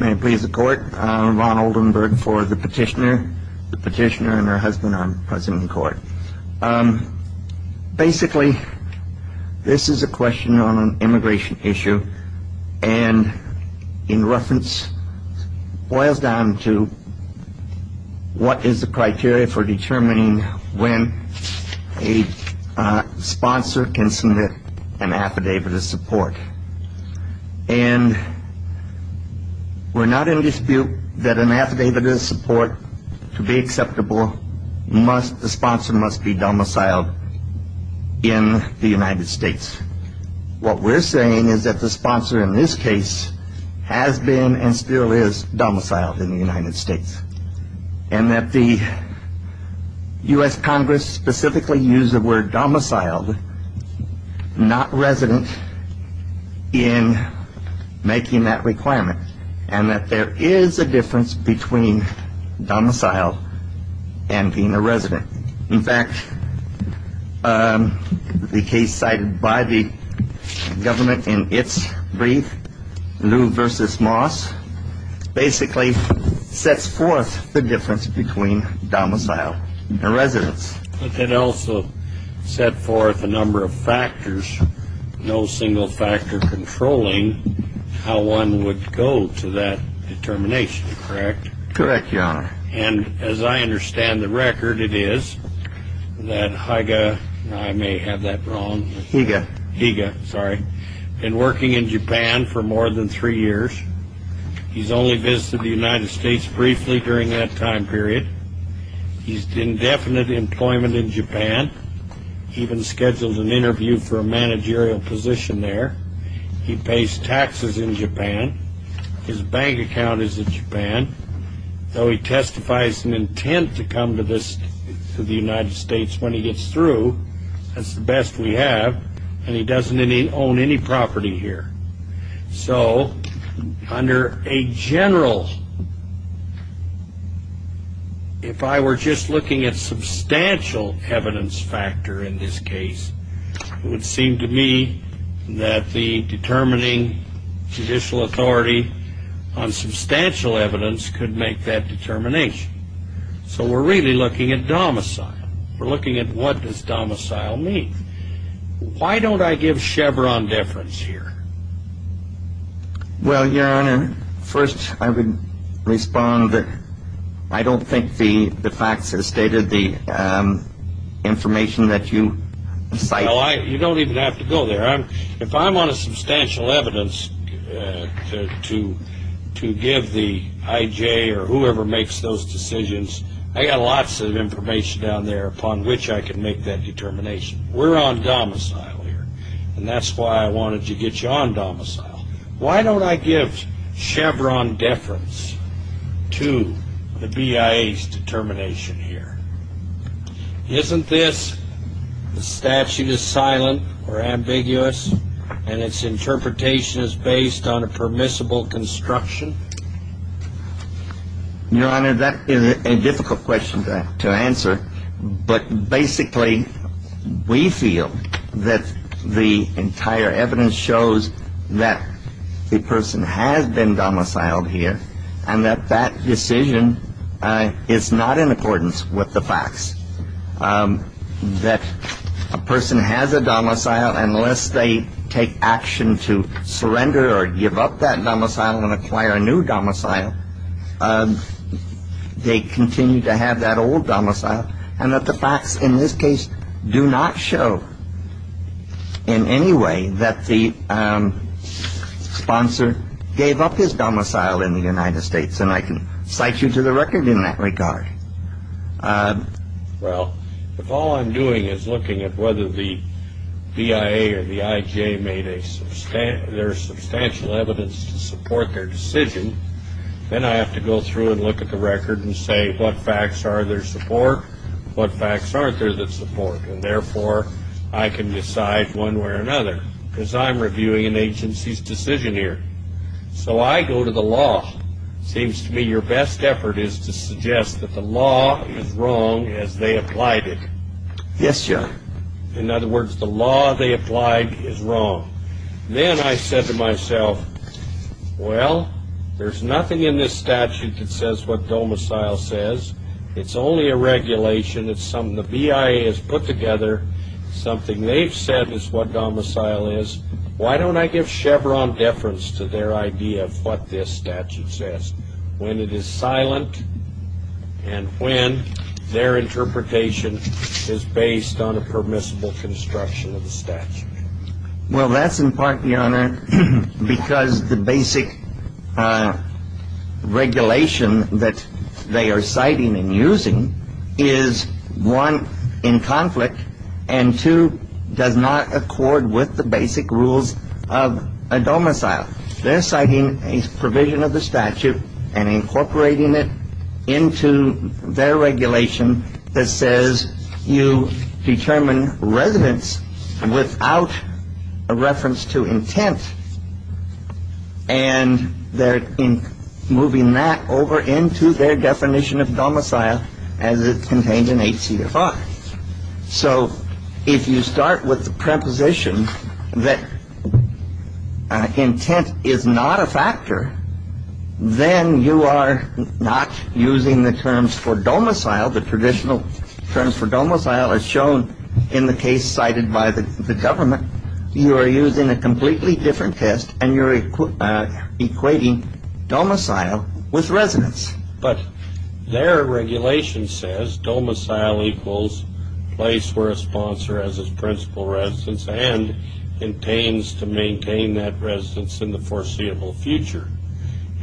May it please the court, Ron Oldenburg for the petitioner, the petitioner and her husband on present in court. Basically this is a question on an immigration issue and in reference boils down to what is the criteria for determining when a sponsor can submit an affidavit of We're not in dispute that an affidavit of support to be acceptable must, the sponsor must be domiciled in the United States. What we're saying is that the sponsor in this case has been and still is domiciled in the United States. And that the U.S. Congress specifically used the word domiciled, not resident, in making that requirement. And that there is a difference between domiciled and being a resident. In fact, the case cited by the government in its brief, Lew v. Moss, basically sets forth the difference between domiciled and also set forth a number of factors, no single factor controlling how one would go to that determination, correct? Correct, your honor. And as I understand the record, it is that Higa, I may have that wrong. Higa. Higa, sorry, been working in Japan for more than three years. He's only visited the United States briefly during that time period. He's in definite employment in Japan. Even scheduled an interview for a managerial position there. He pays taxes in Japan. His bank account is in Japan. Though he testifies an intent to come to the United States when he gets through, that's the best we have. And he doesn't own any property here. So under a general, if I were just looking at substantial evidence factor in this case, it would seem to me that the determining judicial authority on substantial evidence could make that determination. So we're really looking at domicile. We're looking at what does domicile mean? Why don't I give Chevron deference here? Well, your honor, first I would respond that I don't think the facts have stated the information that you cite. You don't even have to go there. If I'm on a substantial evidence to give the I.J. or whoever makes those decisions, I got lots of that determination. We're on domicile here. And that's why I wanted to get you on domicile. Why don't I give Chevron deference to the BIA's determination here? Isn't this, the statute is silent or ambiguous, and its interpretation is based on a permissible construction? Your honor, that is a difficult question to answer. But basically, we feel that the entire evidence shows that the person has been domiciled here, and that that decision is not in accordance with the facts. That a person has a domicile, unless they take action to surrender or give up that domicile and acquire a new domicile. They continue to have that old domicile, and that the facts in this case do not show in any way that the sponsor gave up his domicile in the United States. And I can cite you to the record in that regard. Well, if all I'm doing is looking at whether the BIA or the I.J. made their substantial evidence to support their decision, then I have to go through and look at the record and say what facts are there to support, what facts aren't there to support. And therefore, I can decide one way or another, because I'm reviewing an agency's decision here. So I go to the law. It seems to me your best effort is to suggest that the law is wrong as they Well, there's nothing in this statute that says what domicile says. It's only a regulation. It's something the BIA has put together. Something they've said is what domicile is. Why don't I give Chevron deference to their idea of what this statute says, when it is silent and when their interpretation is based on a permissible construction of the statute? Well, that's in part, Your Honor, because the basic regulation that they are citing and using is, one, in conflict and, two, does not accord with the basic rules of a domicile. They're citing a provision of the statute and incorporating it into their regulation that says you determine residence without a reference to intent. And they're moving that over into their definition of domicile as it's contained in ACFR. So if you start with the preposition that intent is not a factor, then you are not using the terms for domicile, the traditional terms for domicile as shown in the case cited by the government. You are using a completely different test and you're equating domicile with residence. But their regulation says domicile equals place where a sponsor has his principal residence and intends to maintain that residence in the foreseeable future.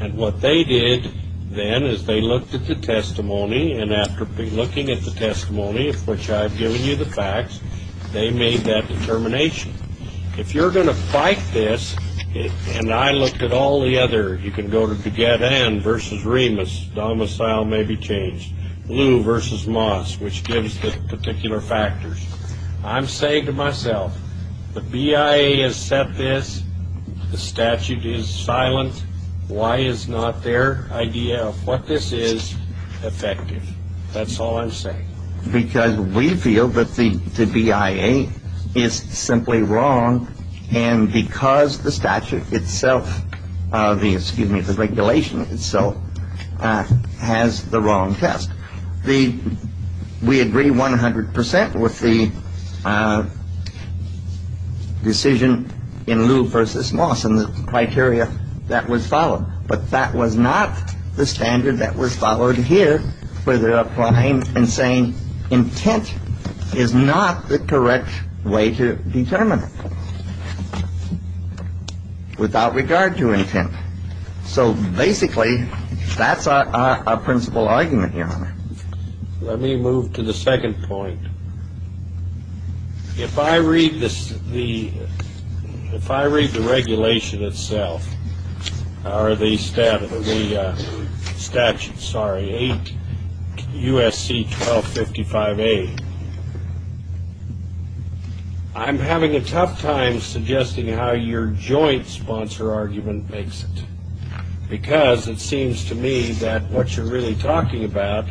And what they did then is they looked at the testimony and after looking at the testimony of which I've given you the facts, they made that determination. If you're going to fight this, and I looked at all the other, you can go to Gagadan versus Remus, domicile may be changed, Lew versus Moss, which gives the particular factors. I'm saying to myself, the BIA has set this, the statute is silent, why is not their idea of what this is effective? That's all I'm saying. Because we feel that the BIA is simply wrong and because the statute itself, excuse me, the regulation itself has the wrong test. We agree 100 percent with the decision in Lew versus Moss and the criteria that was followed. But that was not the standard that was followed here where they're applying and saying intent is not the correct way to determine it without regard to intent. So basically, that's our principal argument, Your Honor. Let me move to the second point. If I read the regulation itself, or the statute, sorry, 8 U.S.C. 1255A, I'm having a tough time suggesting how your joint sponsor argument makes it. Because it seems to me that what you're really talking about,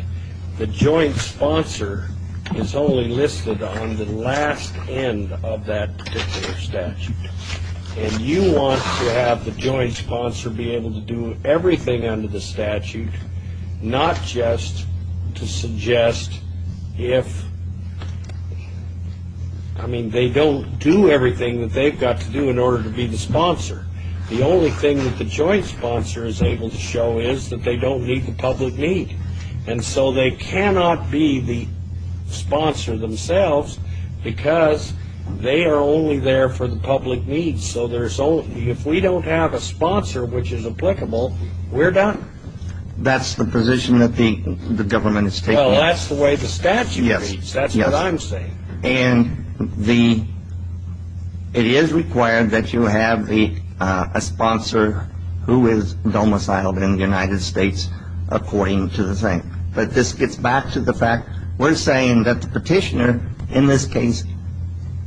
the joint sponsor is only listed on the last end of that particular statute. And you want to have the joint sponsor be able to do everything under the statute, not just to suggest if, I mean, they don't do everything that they've got to do in order to be the sponsor. The only thing that the joint sponsor is able to show is that they don't meet the public need. And so they cannot be the sponsor themselves because they are only there for the public needs. So if we don't have a sponsor which is applicable, we're done. That's the position that the government is taking. Well, that's the way the statute reads. That's what I'm saying. And it is required that you have a sponsor who is domiciled in the United States according to the thing. But this gets back to the fact we're saying that the petitioner in this case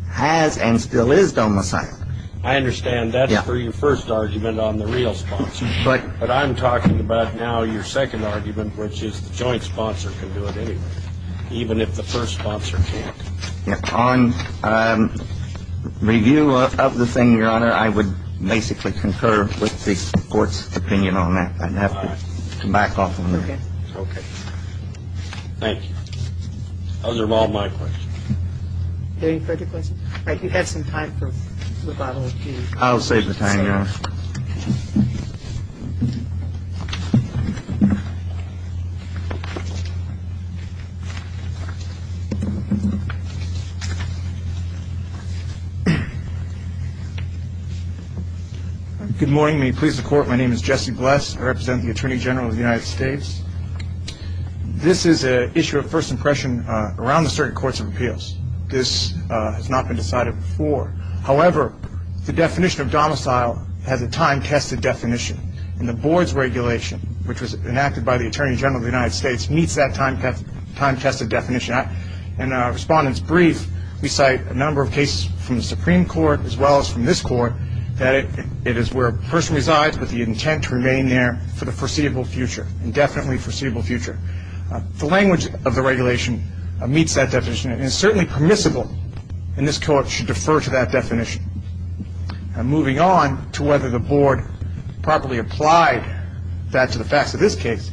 has and still is domiciled. I understand that for your first argument on the real sponsor. But I'm talking about now your second argument, which is the joint sponsor can do it anyway, even if the first sponsor can't. On review of the thing, Your Honor, I would basically concur with the Court's opinion on that. I'd have to back off a minute. Okay. Thank you. Those are all my questions. Any further questions? All right. You have some time for rebuttal. I'll save the time. Good morning. May please the court. My name is Jesse Bless. I represent the attorney general of the United States. This is an issue of first impression around the certain courts of appeals. This has not been decided before. However, the definition of domicile has a time-tested definition, and the board's regulation, which was enacted by the attorney general of the United States, meets that time-tested definition. In our respondent's brief, we cite a number of cases from the Supreme Court, as well as from this court, that it is where a person resides with the intent to remain there for the foreseeable future, indefinitely foreseeable future. The language of the regulation meets that definition and is certainly permissible, and this court should defer to that definition. Moving on to whether the board properly applied that to the facts of this case,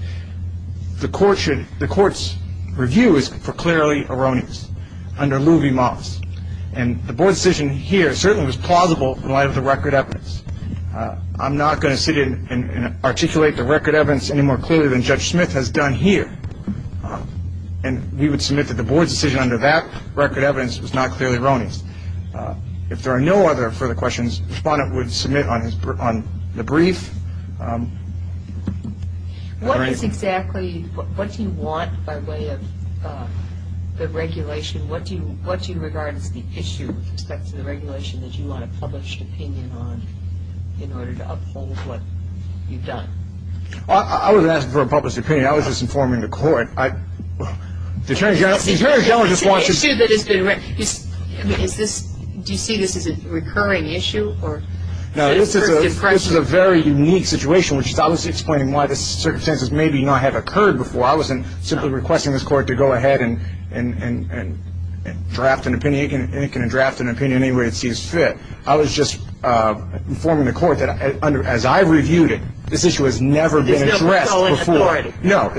the court's review is for clearly erroneous under Louie Moss, and the board's decision here certainly was plausible in light of the record evidence. I'm not going to sit here and articulate the record evidence any more clearly than Judge Smith has done here, and we would submit that the board's decision under that record evidence was not clearly erroneous. If there are no other further questions, the respondent would submit on the brief. What is exactly, what do you want by way of the regulation? What do you regard as the issue with respect to the regulation that you want a published opinion on in order to uphold what you've done? I wasn't asking for a published opinion. I was just informing the court. The attorney general just wants to see. It's an issue that has been raised. Do you see this as a recurring issue? No, this is a very unique situation, which is obviously explaining why this circumstance may not have occurred before. I wasn't simply requesting this court to go ahead and draft an opinion. It can draft an opinion any way it sees fit. I was just informing the court that, as I've reviewed it, this issue has never been addressed before. No,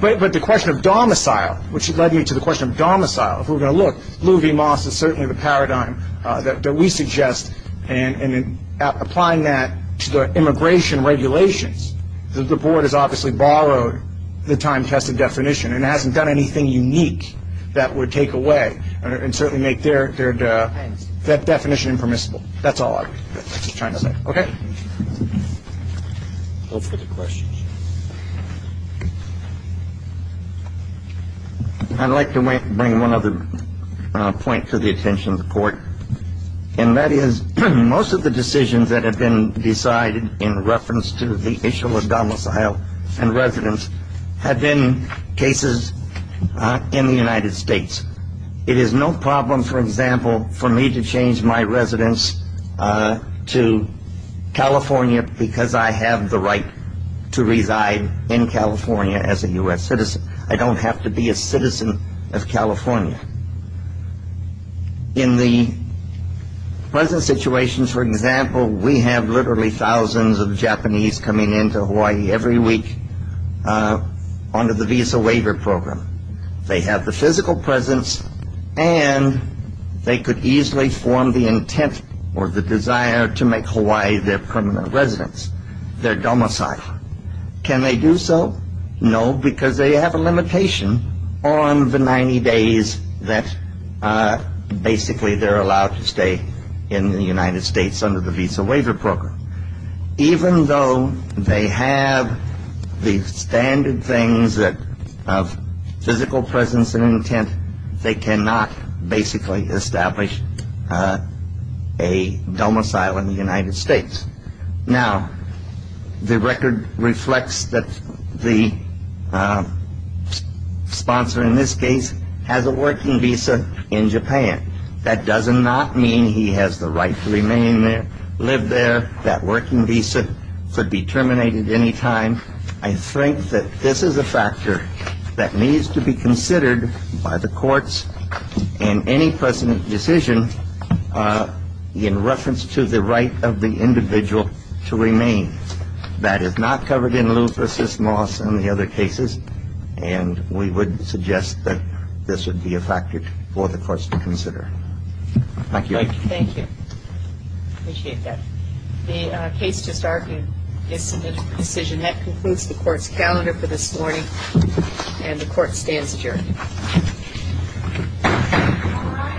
but the question of domicile, which led me to the question of domicile. If we're going to look, Louie Moss is certainly the paradigm that we suggest, and in applying that to the immigration regulations, the board has obviously borrowed the time-tested definition and hasn't done anything unique that would take away and certainly make that definition impermissible. That's all I was trying to say. Okay? Go for the questions. I'd like to bring one other point to the attention of the court, and that is most of the decisions that have been decided in reference to the issue of domicile and residence have been cases in the United States. It is no problem, for example, for me to change my residence to California because I have the right to reside in California as a U.S. citizen. I don't have to be a citizen of California. In the present situation, for example, we have literally thousands of Japanese coming into Hawaii every week under the Visa Waiver Program. They have the physical presence, and they could easily form the intent or the desire to make Hawaii their permanent residence, their domicile. Can they do so? No, because they have a limitation on the 90 days that basically they're allowed to stay in the United States under the Visa Waiver Program. Even though they have the standard things of physical presence and intent, they cannot basically establish a domicile in the United States. Now, the record reflects that the sponsor in this case has a working visa in Japan. That does not mean he has the right to remain there, live there. That working visa could be terminated any time. I think that this is a factor that needs to be considered by the courts in any precedent decision in reference to the right of the individual to remain. That is not covered in Lupus, Moss, and the other cases, and we would suggest that this would be a factor for the courts to consider. Thank you. Thank you. Appreciate that. The case just argued is submitted for decision. That concludes the court's calendar for this morning, and the court stands adjourned.